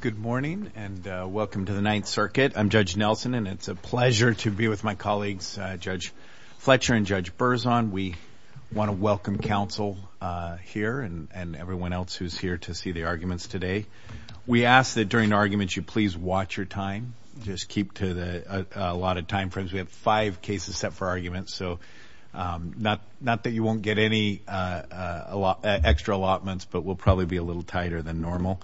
Good morning and welcome to the Ninth Circuit. I'm Judge Nelson and it's a pleasure to be with my colleagues Judge Fletcher and Judge Berzon. We want to welcome counsel here and everyone else who's here to see the arguments today. We ask that during arguments you please watch your time, just keep to the a lot of time frames. We have five cases set for arguments so not that you won't get any extra allotments but we'll probably be a little tighter than normal.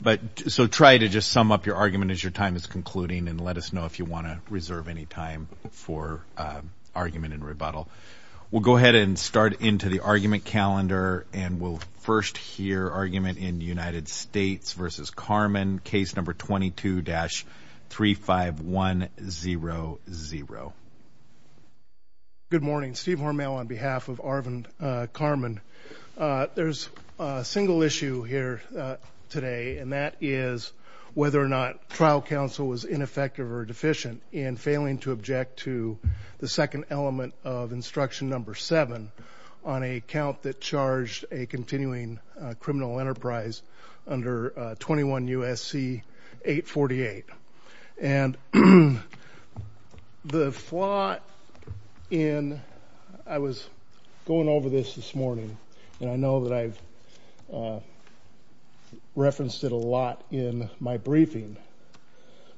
But so try to just sum up your argument as your time is concluding and let us know if you want to reserve any time for argument and rebuttal. We'll go ahead and start into the argument calendar and we'll first hear argument in United States v. Carmen case number 22-35100. Argument in United States v. Carmen case number 22-35100. Good morning. Steve Hormel on behalf of Arvin Carmen. There's a single issue here today and that is whether or not trial counsel was ineffective or deficient in failing to object to the second element of instruction number seven on a count that charged a continuing criminal enterprise under 21 U.S.C. 848. And the flaw in I was going over this this morning and I know that I've referenced it a lot in my briefing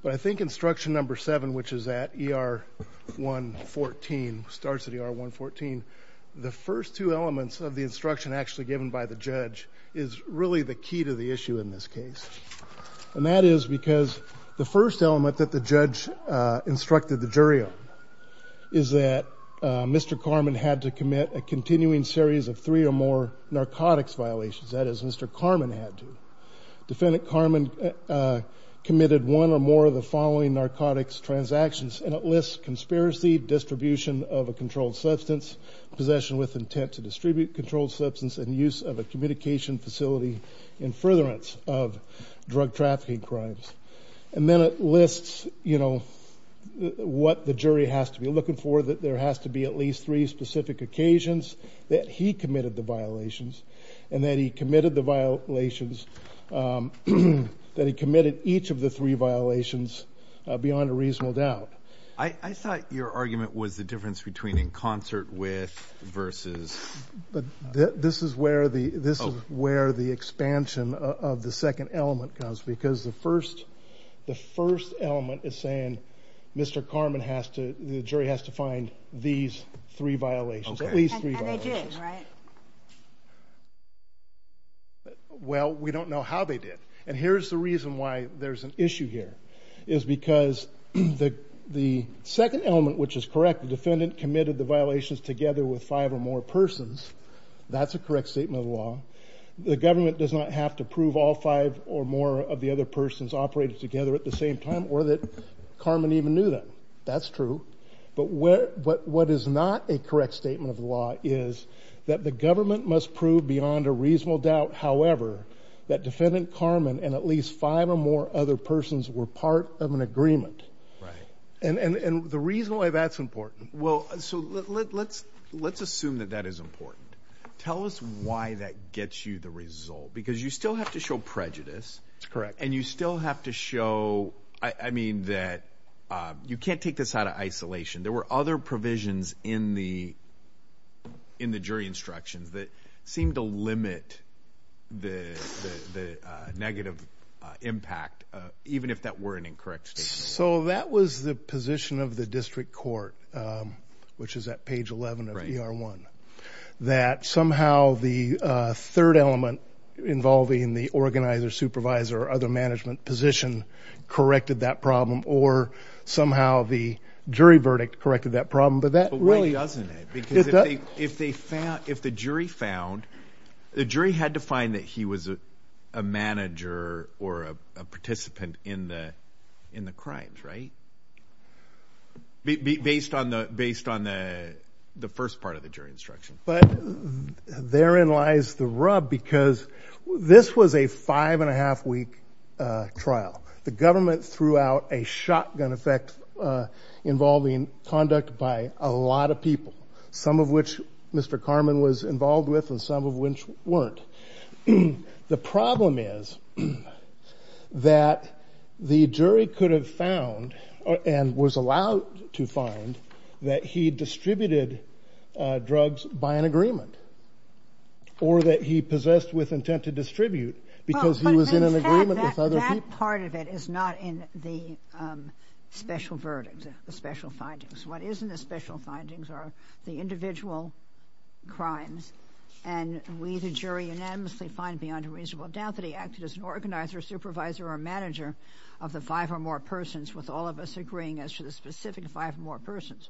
but I think instruction number seven which is at ER 114 starts at ER 114. The first two elements of the instruction actually given by the judge is really the key to the issue in this case and that is because the first element that the judge instructed the jury on is that Mr. Carmen had to commit a continuing series of three or more narcotics violations. That is Mr. Carmen had to. Defendant Carmen committed one or more of the following narcotics transactions and it lists conspiracy, distribution of a controlled substance, possession with intent to distribute controlled substance, and use of a communication facility in furtherance of drug trafficking crimes. And then it lists you know what the jury has to be looking for that there has to be at least three specific occasions that he committed the violations and that he committed the violations that he committed each of the three violations beyond a reasonable doubt. I thought your argument was the difference between in concert with versus. But this is where the this is where the expansion of the second element comes because the first the first element is saying Mr. Carmen has to the jury has to find these three violations. And they did right? Well we don't know how they did and here's the reason why there's an issue here is because the second element which is correct the defendant committed the violations together with five or more persons that's a correct statement of law. The government does not have to prove all five or more of the other persons operated together at the same time or that Carmen even knew that. That's true but what what what is not a correct statement of law is that the government must prove beyond a reasonable doubt however that defendant Carmen and at least five or more other persons were part of an agreement. Right and and and the reason why that's important well so let's let's assume that that is important tell us why that gets you the result because you still have to show I mean that you can't take this out of isolation there were other provisions in the in the jury instructions that seem to limit the the negative impact even if that were an incorrect statement. So that was the position of the district court which is at page 11 of ER 1 that somehow the third element involving the organizer supervisor or other management position corrected that problem or somehow the jury verdict corrected that problem but that really doesn't it because if they found if the jury found the jury had to find that he was a manager or a participant in the in the crimes right based on the based on the the first part of the jury instruction. But therein lies the rub because this was a five and a half week trial the government threw out a shotgun effect involving conduct by a lot of people some of which Mr. Carmen was involved with and some of which weren't. The problem is that the jury could have found and was allowed to find that he distributed drugs by an agreement or that he possessed with intent to distribute because he was in an agreement with other people. That part of it is not in the special verdicts the special findings. What is in the special findings are the individual crimes and we the jury unanimously find beyond a reasonable doubt that he acted as an organizer supervisor or manager of the five or more persons with all of us agreeing as to the specific five more persons.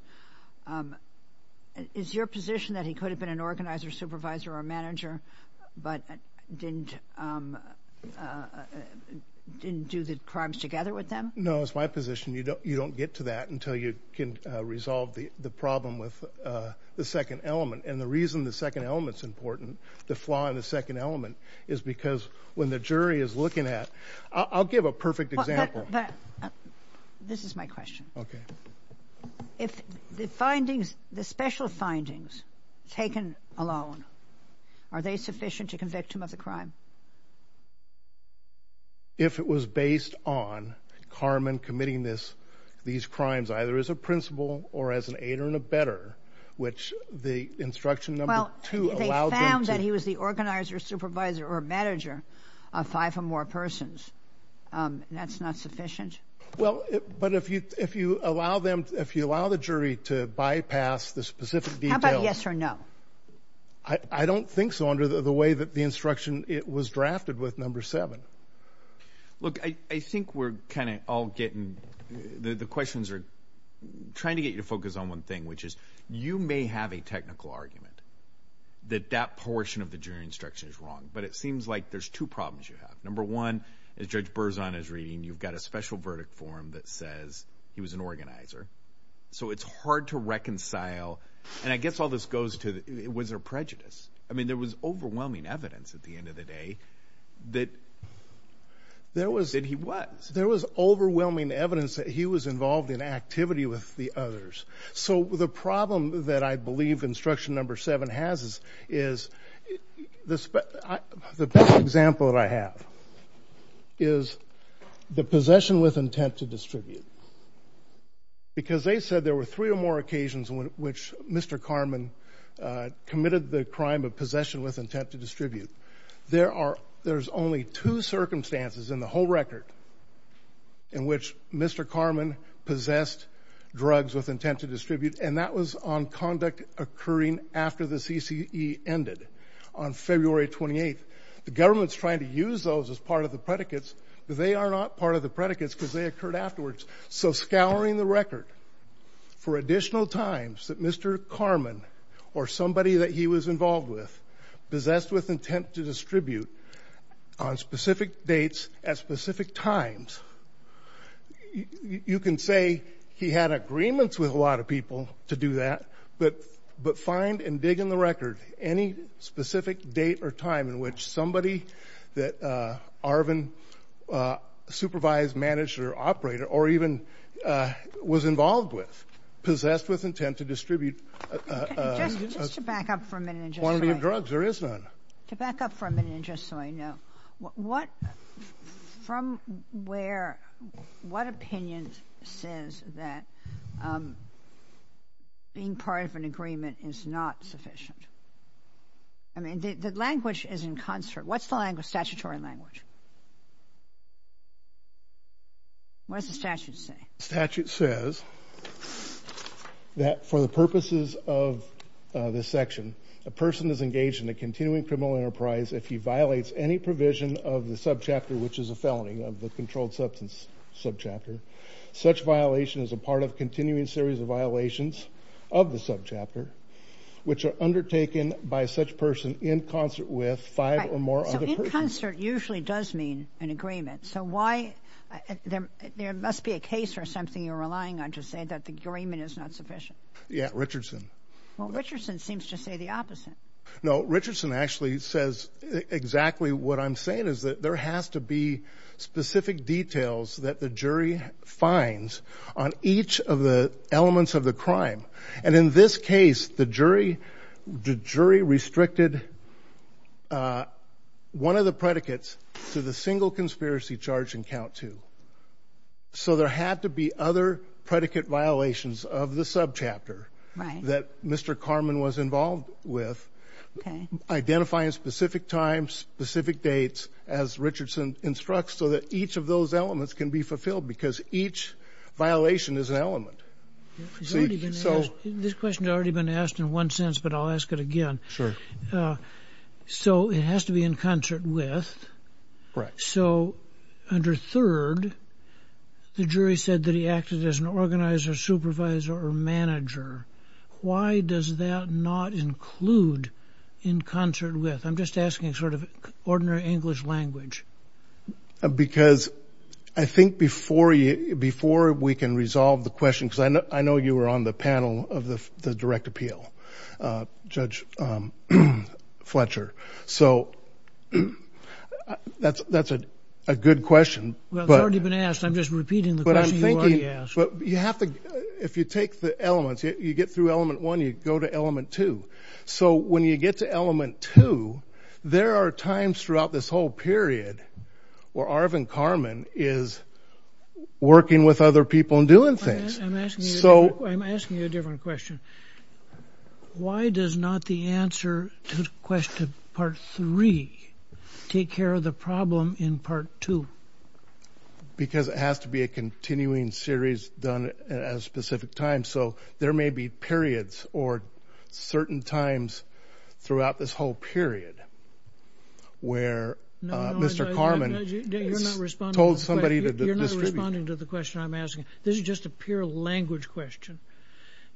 Is your position that he could have been an organizer supervisor or manager but didn't didn't do the crimes together with them? No it's my position you don't you don't get to until you can resolve the the problem with the second element and the reason the second element is important the flaw in the second element is because when the jury is looking at I'll give a perfect example. This is my question. Okay. If the findings the special findings taken alone are they sufficient to convict him of the crime? If it was based on Carmen committing this these crimes either as a principal or as an aider and a better which the instruction number two. Well they found that he was the organizer supervisor or manager of five or more persons that's not sufficient. Well but if you if you allow them if you allow the jury to bypass the specific details. How about yes or no? I don't think so the way that the instruction it was drafted with number seven. Look I I think we're kind of all getting the the questions are trying to get you to focus on one thing which is you may have a technical argument that that portion of the jury instruction is wrong but it seems like there's two problems you have. Number one as Judge Berzon is reading you've got a special verdict form that says he was an organizer so it's hard to reconcile and I guess all this goes to was there prejudice? I mean there was overwhelming evidence at the end of the day that there was that he was there was overwhelming evidence that he was involved in activity with the others. So the problem that I believe instruction number seven has is is this the best example that I have is the possession with intent to distribute. Because they said there were three or more occasions when which Mr. Karman committed the crime of possession with intent to distribute. There are there's only two circumstances in the whole record in which Mr. Karman possessed drugs with intent to distribute and that was on conduct occurring after the CCE ended on February 28th. The government's trying to use those as part of the predicates but they are not part of the predicates because they occurred afterwards. So scouring the record for additional times that Mr. Karman or somebody that he was involved with possessed with intent to distribute on specific dates at specific times you can say he had agreements with a lot of people to do that but but find and dig in the record any specific date or time in which somebody that Arvin supervised, managed, or operated or even was involved with possessed with intent to distribute. Just to back up for a minute. Quantity of drugs there is none. To back up for a minute and just so I know what from where what opinion says that being part of an agreement is not sufficient? I mean the language is in concert. What's the language statutory language? What does the statute say? The statute says that for the purposes of this section a person is engaged in a continuing criminal enterprise if he violates any provision of the subchapter which is a felony of the controlled substance subchapter. Such violation is a part of continuing series of violations of the subchapter which are undertaken by such person in concert with five or more. So in concert usually does mean an agreement so why there there must be a case or something you're relying on to say that the agreement is not sufficient? Yeah Richardson. Well Richardson seems to say the opposite. No Richardson actually says exactly what I'm saying is that there has to be specific details that the jury finds on each of the elements of the crime and in this case the jury restricted one of the predicates to the single conspiracy charge in count two. So there had to be other predicate violations of the subchapter that Mr. Carman was involved with identifying specific times specific dates as Richardson instructs so that each of those elements can be fulfilled because each violation is an element. So this question has already been asked in one sense but I'll ask it again. Sure. So it has to be in concert with. Correct. So under third the jury said that he acted as an organizer supervisor or manager. Why does that not include in concert with? I'm just asking sort of ordinary English language. Because I think before we can resolve the question because I know you were on the panel of the direct appeal Judge Fletcher. So that's a good question. Well it's already been asked I'm repeating the question you already asked. But you have to if you take the elements you get through element one you go to element two. So when you get to element two there are times throughout this whole period where Arvind Carman is working with other people and doing things. I'm asking you a different question. Why does not the answer to question part three take care of the problem in part two? Because it has to be a continuing series done at a specific time. So there may be periods or certain times throughout this whole period where Mr. Carman told somebody. You're not responding to the question I'm asking. This is just a pure language question.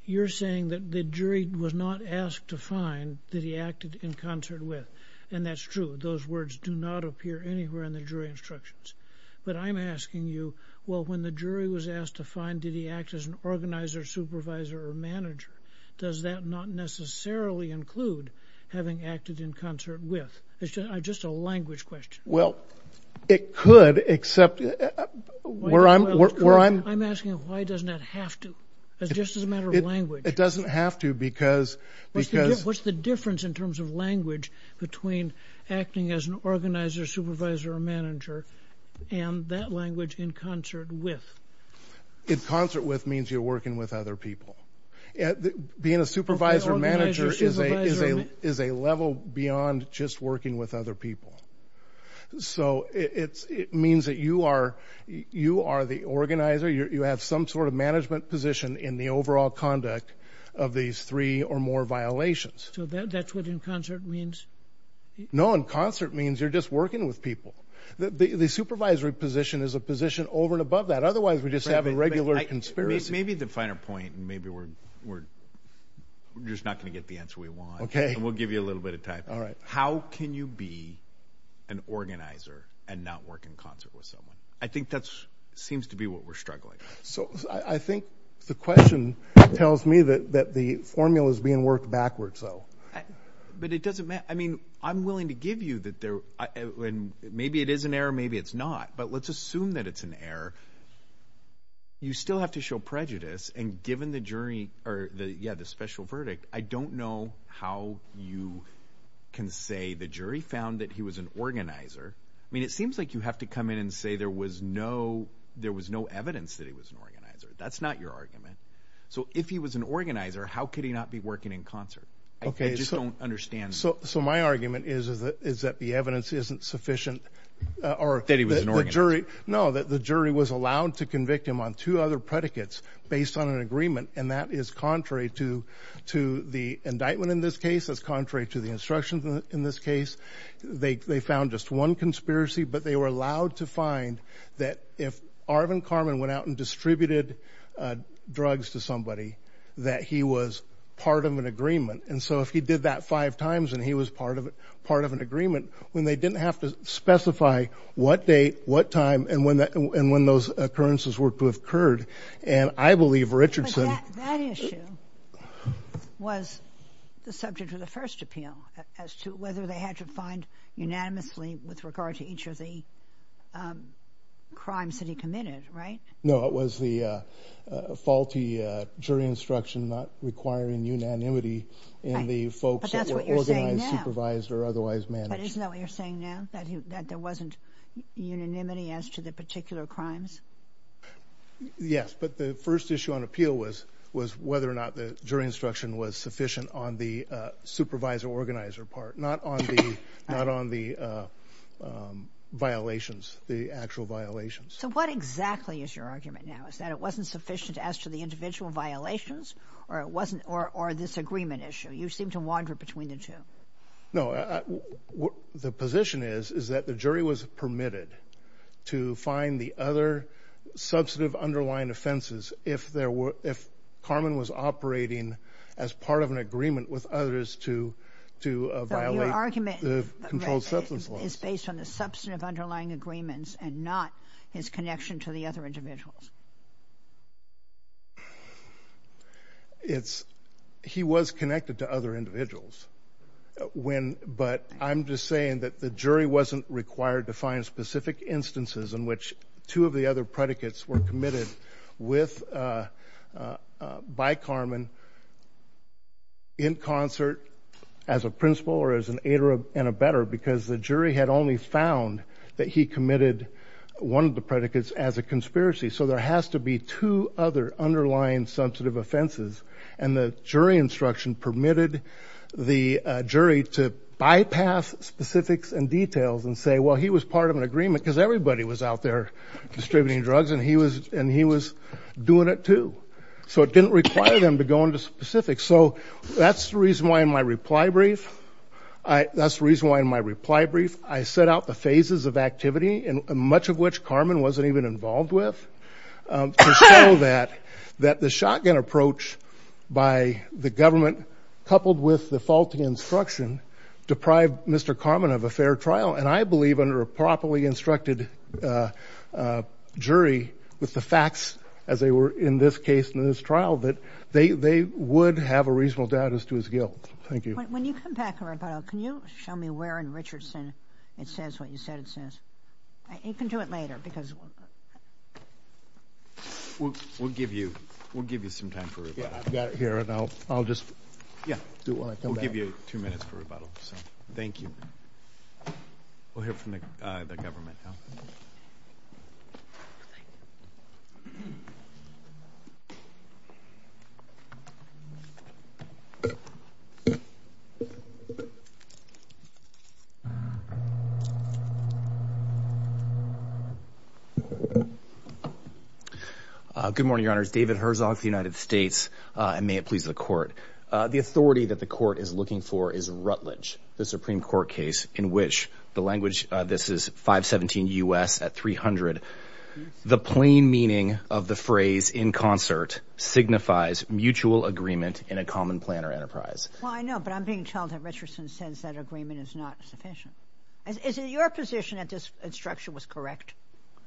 You're saying that the jury was not asked to find that he acted in concert with and that's true. Those words do not appear anywhere in the jury instructions. But I'm asking you well when the jury was asked to find did he act as an organizer supervisor or manager does that not necessarily include having acted in concert with? It's just a language question. Well it could except where I'm asking why doesn't that have to? It's just a matter of language. It doesn't have to because. What's the difference in terms of between acting as an organizer supervisor or manager and that language in concert with? In concert with means you're working with other people. Being a supervisor manager is a level beyond just working with other people. So it means that you are the organizer. You have some sort of management position in the overall conduct of these three or more violations. So that's what concert means? No in concert means you're just working with people. The supervisory position is a position over and above that. Otherwise we just have a regular experience. Maybe the finer point and maybe we're just not going to get the answer we want. Okay. We'll give you a little bit of time. All right. How can you be an organizer and not work in concert with someone? I think that seems to be what we're struggling. So I think the question tells me that the formula is being backwards. But it doesn't matter. I mean I'm willing to give you that. Maybe it is an error. Maybe it's not. But let's assume that it's an error. You still have to show prejudice and given the special verdict I don't know how you can say the jury found that he was an organizer. I mean it seems like you have to come in and say there was no evidence that he was an organizer. That's concert. I just don't understand. So my argument is that the evidence isn't sufficient. Or that he was an organizer. No that the jury was allowed to convict him on two other predicates based on an agreement and that is contrary to the indictment in this case. That's contrary to the instructions in this case. They found just one conspiracy but they were allowed to find that if Arvind Karman went out and distributed drugs to somebody that he was part of an agreement. And so if he did that five times and he was part of it part of an agreement when they didn't have to specify what date what time and when that and when those occurrences were to have occurred. And I believe Richardson. That issue was the subject of the first appeal as to whether they had to find unanimously with regard to each of the crimes that he committed right. No it was the faulty jury instruction not requiring unanimity in the folks that were organized, supervised or otherwise managed. But isn't that what you're saying now? That there wasn't unanimity as to the particular crimes? Yes but the first issue on appeal was whether or not the jury instruction was sufficient on the supervisor organizer part not on the not on the violations the actual violations. So what exactly is your argument now? Is that it wasn't sufficient as to the individual violations or it wasn't or or this agreement issue? You seem to wander between the two. No the position is is that the jury was permitted to find the other substantive underlying offenses if there were if Carmen was operating as part of an agreement with others to to violate the controlled substance law. It's based on the substantive underlying agreements and not his connection to the other individuals. It's he was connected to other individuals when but I'm just saying that the jury wasn't required to find specific instances in which two of the other predicates were committed with by Carmen in concert as a principal or as an aider and a better because the jury had only found that he committed one of the predicates as a conspiracy. So there has to be two other underlying sensitive offenses and the jury instruction permitted the jury to bypass specifics and details and say well he was part of an agreement because everybody was out there distributing drugs and he was and he was doing it too. So it didn't require them to go into specifics so that's the reason why in my reply brief I that's the reason why in my reply brief I set out the phases of activity and much of which Carmen wasn't even involved with to show that that the shotgun approach by the government coupled with the faulty instruction deprived Mr. Carmen of a fair trial and I believe under a properly instructed uh jury with the facts as they were in this case in this trial that they they would have a reasonable doubt as to his guilt. Thank you. When you come back around can you show me where in Richardson it says what you said it can do it later because we'll we'll give you we'll give you some time for it. Yeah I've got it here and I'll I'll just yeah do it when I come back. We'll give you two minutes for rebuttal so thank you. We'll hear from the uh the government now. Uh good morning your honors David Herzog the United States uh and may it please the court. Uh the authority that the court is looking for is Rutledge the Supreme Court case in which the language uh this is 517 U.S. at 300 the plain meaning of the phrase in concert signifies mutual agreement in a common plan or enterprise. Well I know but I'm being told that says that agreement is not sufficient. Is it your position that this instruction was correct?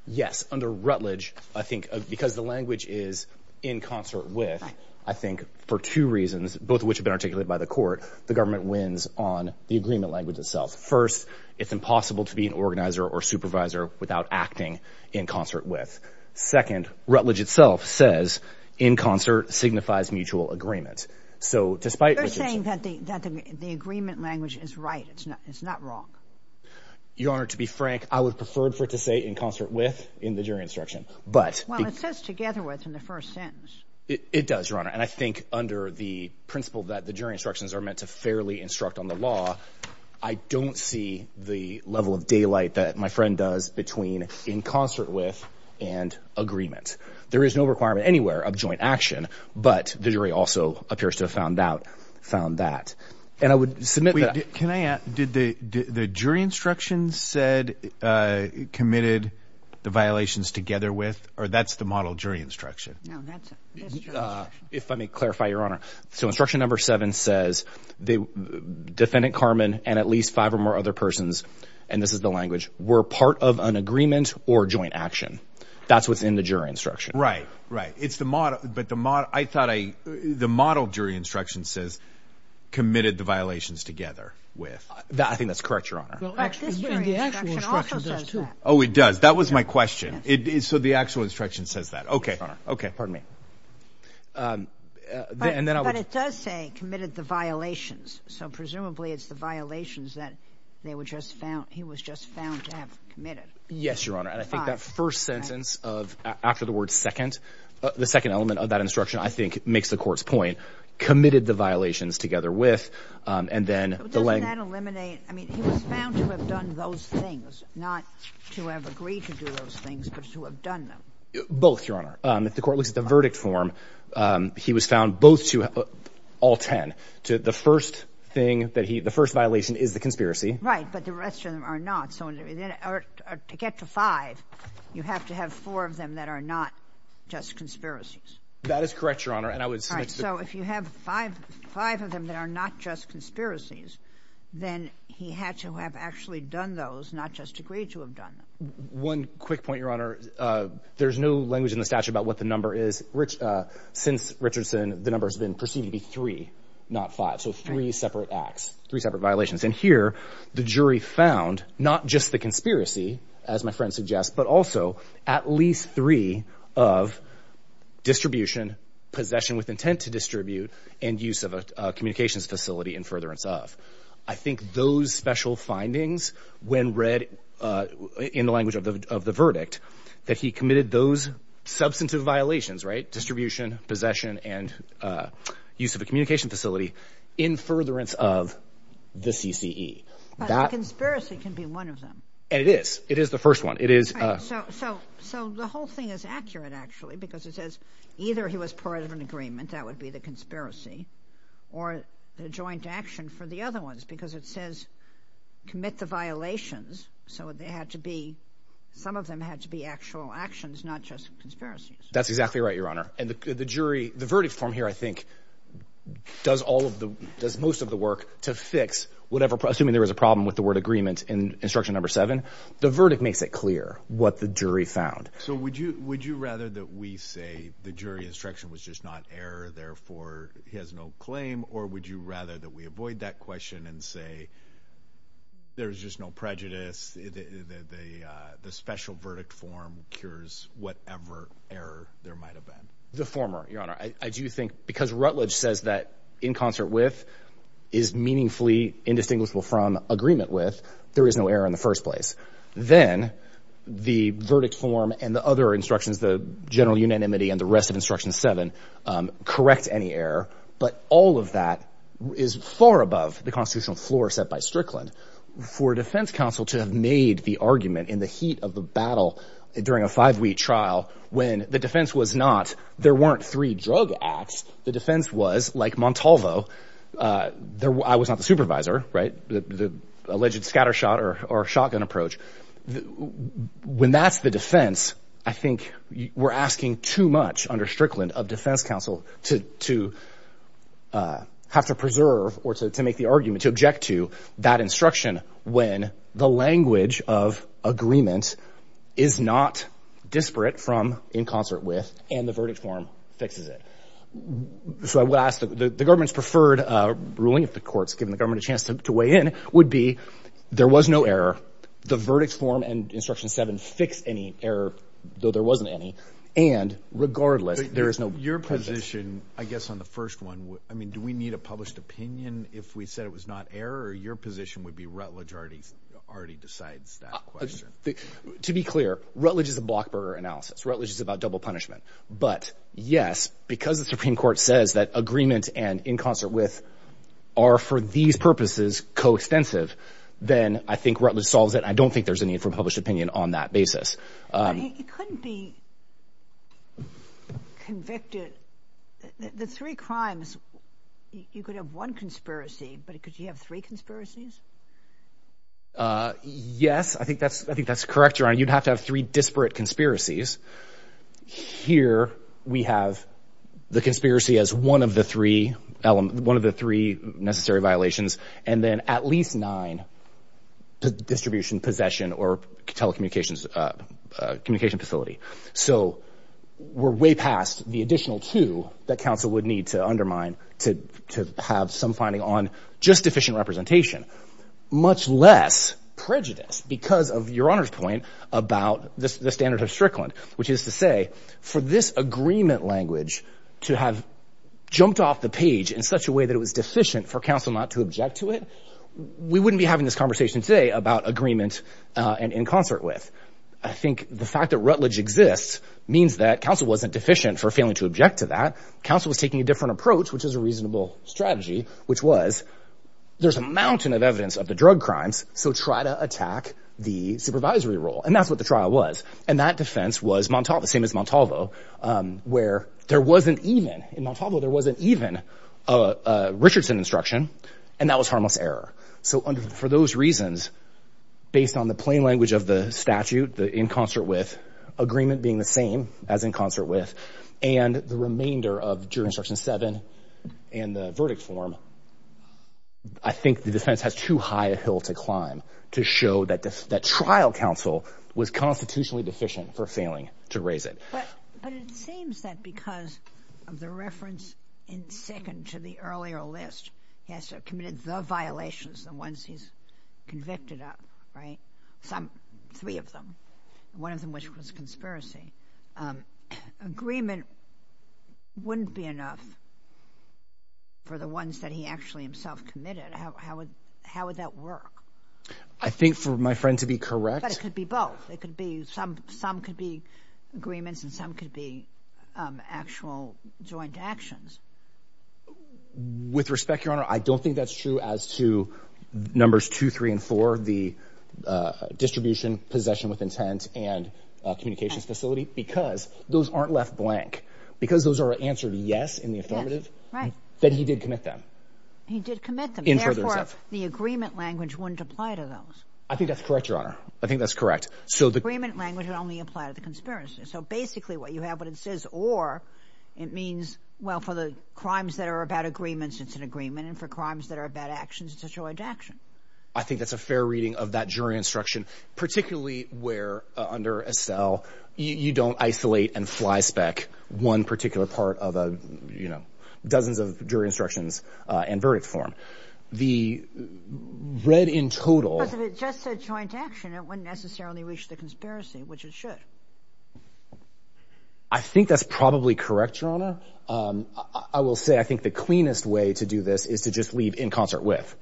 Yes under Rutledge I think because the language is in concert with I think for two reasons both of which have been articulated by the court the government wins on the agreement language itself. First it's impossible to be an organizer or supervisor without acting in concert with. Second Rutledge itself says in concert signifies mutual agreement so despite saying that the that the agreement language is right it's not it's not wrong. Your honor to be frank I would prefer for it to say in concert with in the jury instruction but. Well it says together with in the first sentence. It does your honor and I think under the principle that the jury instructions are meant to fairly instruct on the law I don't see the level of daylight that my friend does between in concert with and agreement. There is no requirement anywhere of joint action but the jury also appears to have found out found that and I would submit that. Can I ask did the did the jury instruction said uh committed the violations together with or that's the model jury instruction? No that's uh if let me clarify your honor so instruction number seven says the defendant Carmen and at least five or more other persons and this is the language were part of an agreement or joint action that's within the jury instruction. Right right it's the model but the model I thought I the model jury instruction says committed the violations together with that I think that's correct your honor. Oh it does that was my question it is so the actual instruction says that okay okay pardon me um and then but it does say committed the violations so presumably it's the violations that they were just found he was just found to have committed. Yes your honor and I think that first sentence of after the word second the second element of that instruction I think makes the court's point committed the violations together with um and then doesn't that eliminate I mean he was found to have done those things not to have agreed to do those things but to have done them. Both your honor um if the court looks at the verdict form um he was found both to all ten to the first thing that he the first violation is the conspiracy. Right but the rest of them are not so in order to get to five you have to have four of them that are not just conspiracies. That is correct your honor and I would say so if you have five five of them that are not just conspiracies then he had to have actually done those not just agreed to have done them. One quick point your honor uh there's no language in the statute about what the number is rich uh since Richardson the number has been perceived to be three not five so three separate acts three separate violations and here the jury found not just the conspiracy as my friend suggests but also at least three of distribution possession with intent to distribute and use of a communications facility in furtherance of. I think those special findings when read uh in the language of the of the verdict that he committed those substantive violations right possession and uh use of a communication facility in furtherance of the cce that conspiracy can be one of them and it is it is the first one it is uh so so so the whole thing is accurate actually because it says either he was part of an agreement that would be the conspiracy or the joint action for the other ones because it says commit the violations so they had to be some of them had to be actual actions not just conspiracies. That's exactly right your honor and the jury the verdict form here I think does all of the does most of the work to fix whatever assuming there was a problem with the word agreement in instruction number seven the verdict makes it clear what the jury found. So would you would you rather that we say the jury instruction was just not error therefore he has no claim or would you rather that we avoid that question and say there's just no prejudice the the uh the special verdict form cures whatever error there might have been the former your honor I do think because Rutledge says that in concert with is meaningfully indistinguishable from agreement with there is no error in the first place then the verdict form and the other instructions the general unanimity and the rest of instruction seven um correct any error but all of that is far above the constitutional floor set by Strickland for defense counsel to have made the argument in the heat of the battle during a five-week trial when the defense was not there weren't three drug acts the defense was like Montalvo uh there I was not the supervisor right the alleged scattershot or shotgun approach when that's the defense I think we're asking too much under Strickland of defense counsel to to uh have to preserve or to make the argument to object to that instruction when the language of agreement is not disparate from in concert with and the verdict form fixes it so I would ask that the government's preferred uh ruling if the court's given the government a chance to weigh in would be there was no error the verdict form and instruction seven fix any error though there wasn't any and regardless there is no your position I guess on the first one I mean do we need a published opinion if we said it was not error or your position would be Rutledge already already decides that question to be clear Rutledge is a block burger analysis Rutledge is about double punishment but yes because the supreme court says that agreement and in concert with are for these purposes co-extensive then I think Rutledge solves it I don't think there's a need for published opinion on that basis um it couldn't be convicted the three crimes you could have one conspiracy but could you have three conspiracies uh yes I think that's I think that's correct your honor you'd have to have three disparate conspiracies here we have the conspiracy as one of the three element one of the three necessary violations and then at least nine distribution possession or telecommunications uh communication facility so we're way past the additional two that council would need to undermine to to have some finding on just efficient representation much less prejudice because of your honor's point about this the standard of strickland which is to say for this agreement language to have jumped off the page in such a way that it was deficient for council not to object to it we wouldn't be having this conversation today about agreement uh and in concert with I think the fact that Rutledge exists means that council wasn't deficient for failing to object to that council was taking a different approach which is a reasonable strategy which was there's a mountain of evidence of the drug crimes so try to attack the supervisory role and that's what the trial was and that defense was same as Montalvo where there wasn't even in Montalvo there wasn't even a Richardson instruction and that was harmless error so under for those reasons based on the plain language of the statute the in concert with agreement being the same as in concert with and the remainder of jury instruction seven and the verdict form I think the defense has too high a hill to climb to show that that trial counsel was constitutionally deficient for failing to raise it but it seems that because of the reference in second to the earlier list he has to have committed the violations the ones he's convicted of right some three of them one of them which was conspiracy um agreement wouldn't be enough for the ones that he actually himself committed how how would how would that work I think for my friend to be correct it could be both it could be some some could be agreements and some could be um actual joint actions with respect your honor I don't think that's true as to numbers two three and four the uh distribution possession with intent and uh communications facility because those aren't left blank because those are answered yes in the apply to those I think that's correct your honor I think that's correct so the agreement language would only apply to the conspiracy so basically what you have what it says or it means well for the crimes that are about agreements it's an agreement and for crimes that are about actions it's a joint action I think that's a fair reading of that jury instruction particularly where under Estelle you don't isolate and fly spec one particular part of a you know dozens of jury uh and verdict form the read in total because if it just said joint action it wouldn't necessarily reach the conspiracy which it should I think that's probably correct your honor um I will say I think the cleanest way to do this is to just leave in concert with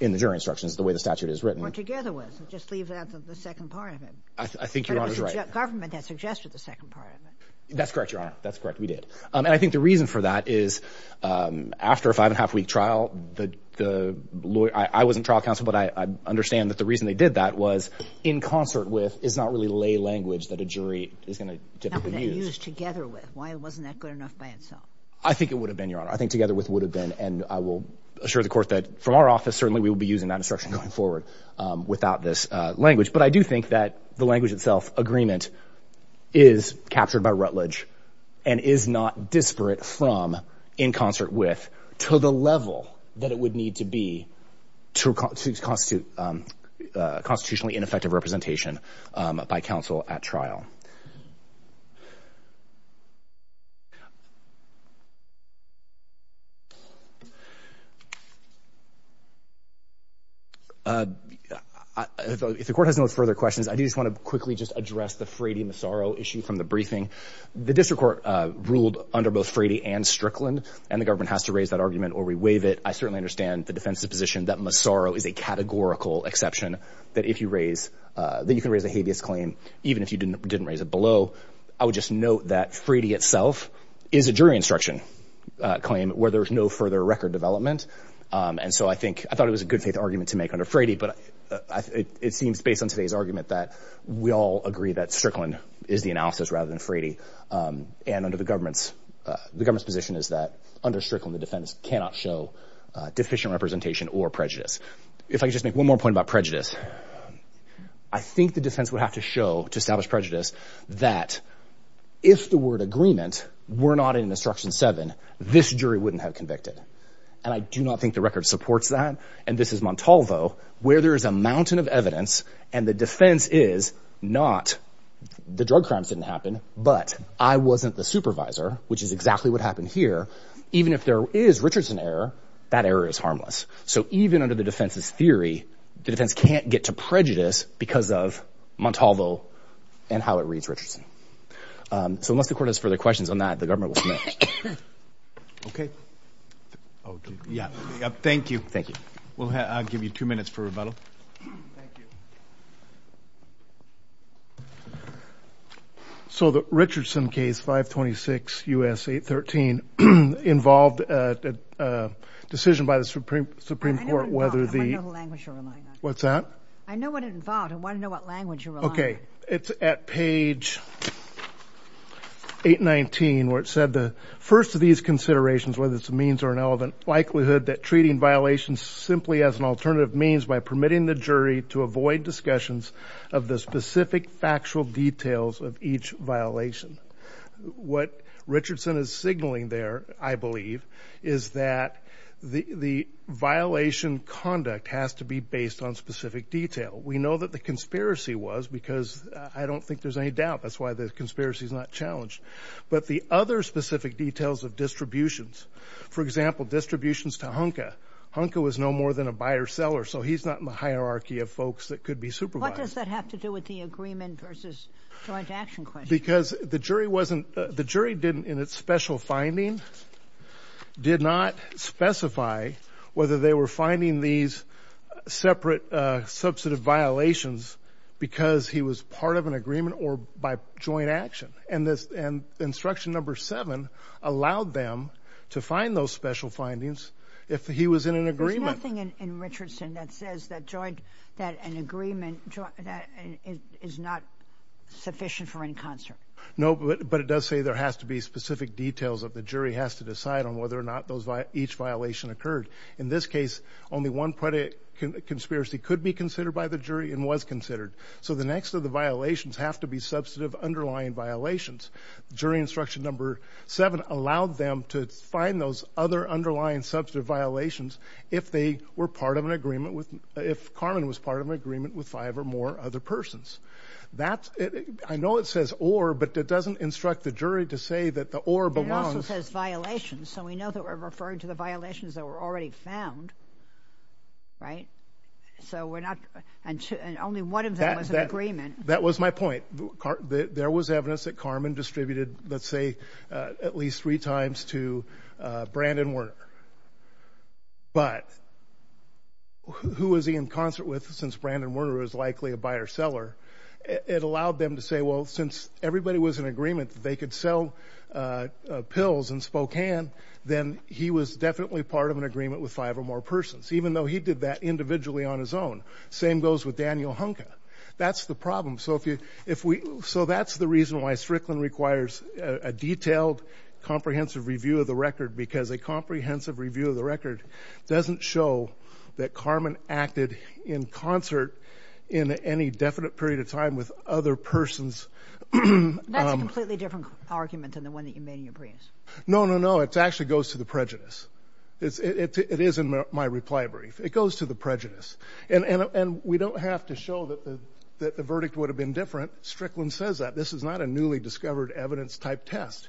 in the jury instructions the way the statute is written or together with just leave that the second part of it I think your honor's right government that suggested the second part of it that's correct your honor that's correct we did um and I think the reason for that is um after a five and a half week trial the the lawyer I wasn't trial counsel but I understand that the reason they did that was in concert with is not really lay language that a jury is going to typically use together with why wasn't that good enough by itself I think it would have been your honor I think together with would have been and I will assure the court that from our office certainly we will be using that instruction going forward um without this uh language but I do think that the language itself agreement is captured by Rutledge and is not disparate from in concert with to the level that it would need to be to constitute um uh constitutionally ineffective representation um by counsel at trial uh if the court has no further questions I just want to quickly just address the Frady Massaro issue from the briefing the district court uh ruled under both Frady and Strickland and the government has to raise that argument or we waive it I certainly understand the defense's position that Massaro is a categorical exception that if you raise uh that you can raise a habeas claim even if you didn't didn't raise it below I would just note that Frady itself is a jury instruction uh claim where there's no further record development and so I think I thought it was a good faith argument to make under Frady but it seems based on today's argument that we all agree that Strickland is the analysis rather than Frady um and under the government's uh the government's position is that under Strickland the defense cannot show uh deficient representation or prejudice if I just make one more point about prejudice I think the defense would have to show to establish prejudice that if the word agreement were not in instruction seven this jury wouldn't have convicted and I do not think the record supports that and this is Montalvo where there is a mountain of evidence and the defense is not the drug crimes didn't happen but I wasn't the supervisor which is exactly what happened here even if there is Richardson error that error is harmless so even under the defense's theory the defense can't get to prejudice because of Montalvo and how it reads Richardson um so unless the court has further questions on that the government will submit okay okay yeah thank you thank you we'll have I'll give you two minutes for rebuttal thank you so the Richardson case 526 U.S. 813 involved a decision by the supreme supreme court whether the what's that I know what it involved I want to know what language you're okay it's at page 819 where it said the first of these considerations whether it's a means or an element likelihood that treating violations simply as an alternative means by permitting the jury to avoid discussions of the specific factual details of each violation what Richardson is signaling there I believe is that the the violation conduct has to be based on specific detail we know that the conspiracy was because I don't think there's any doubt that's why the conspiracy is not challenged but the other specific details of distributions for example distributions to hunker hunker was no more than a buyer seller so he's not in the hierarchy of folks that could be supervised what does that have to do with the agreement versus joint action question because the jury wasn't the jury didn't in its special finding did not specify whether they were finding these separate uh substantive violations because he was part of an agreement or by joint action and this and instruction number seven allowed them to find those special findings if he was in an agreement in Richardson that says that joint that an agreement that is not sufficient for in concert no but it does say there has to be of the jury has to decide on whether or not those each violation occurred in this case only one conspiracy could be considered by the jury and was considered so the next of the violations have to be substantive underlying violations jury instruction number seven allowed them to find those other underlying substantive violations if they were part of an agreement with if Carmen was part of an agreement with five or more other persons that I know it says or but it doesn't instruct the jury to say that the or belongs it says violations so we know that we're referring to the violations that were already found right so we're not and only one of them was an agreement that was my point there was evidence that Carmen distributed let's say at least three times to Brandon Werner but who was he in concert with since Brandon Werner was likely a buyer seller it allowed them to say well since everybody was in agreement they could sell pills in Spokane then he was definitely part of an agreement with five or more persons even though he did that individually on his own same goes with Daniel Hunka that's the problem so if you if we so that's the reason why Strickland requires a detailed comprehensive review of the record because a comprehensive review of the record doesn't show that Carmen acted in concert in any definite period of time with other persons that's a completely different argument than the one that you made in your briefs no no no it actually goes to the prejudice it's it is in my reply brief it goes to the prejudice and and we don't have to show that the that the verdict would have been different Strickland says that this is not a newly discovered evidence type test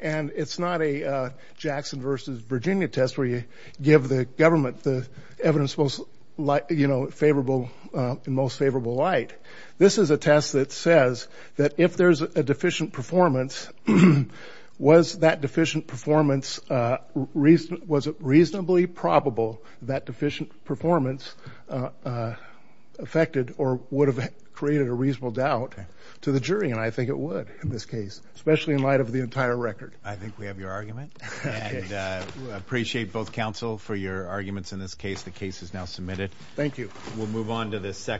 and it's not a Jackson versus Virginia test where you give the government the evidence most like you know favorable in most favorable light this is a test that says that if there's a deficient performance was that deficient performance reason was it reasonably probable that deficient performance affected or would have created a reasonable doubt to the jury and I think it would in this case especially in light of the entire record I think we have your argument and I appreciate both counsel for your arguments in this case the case is now thank you we'll move on to the second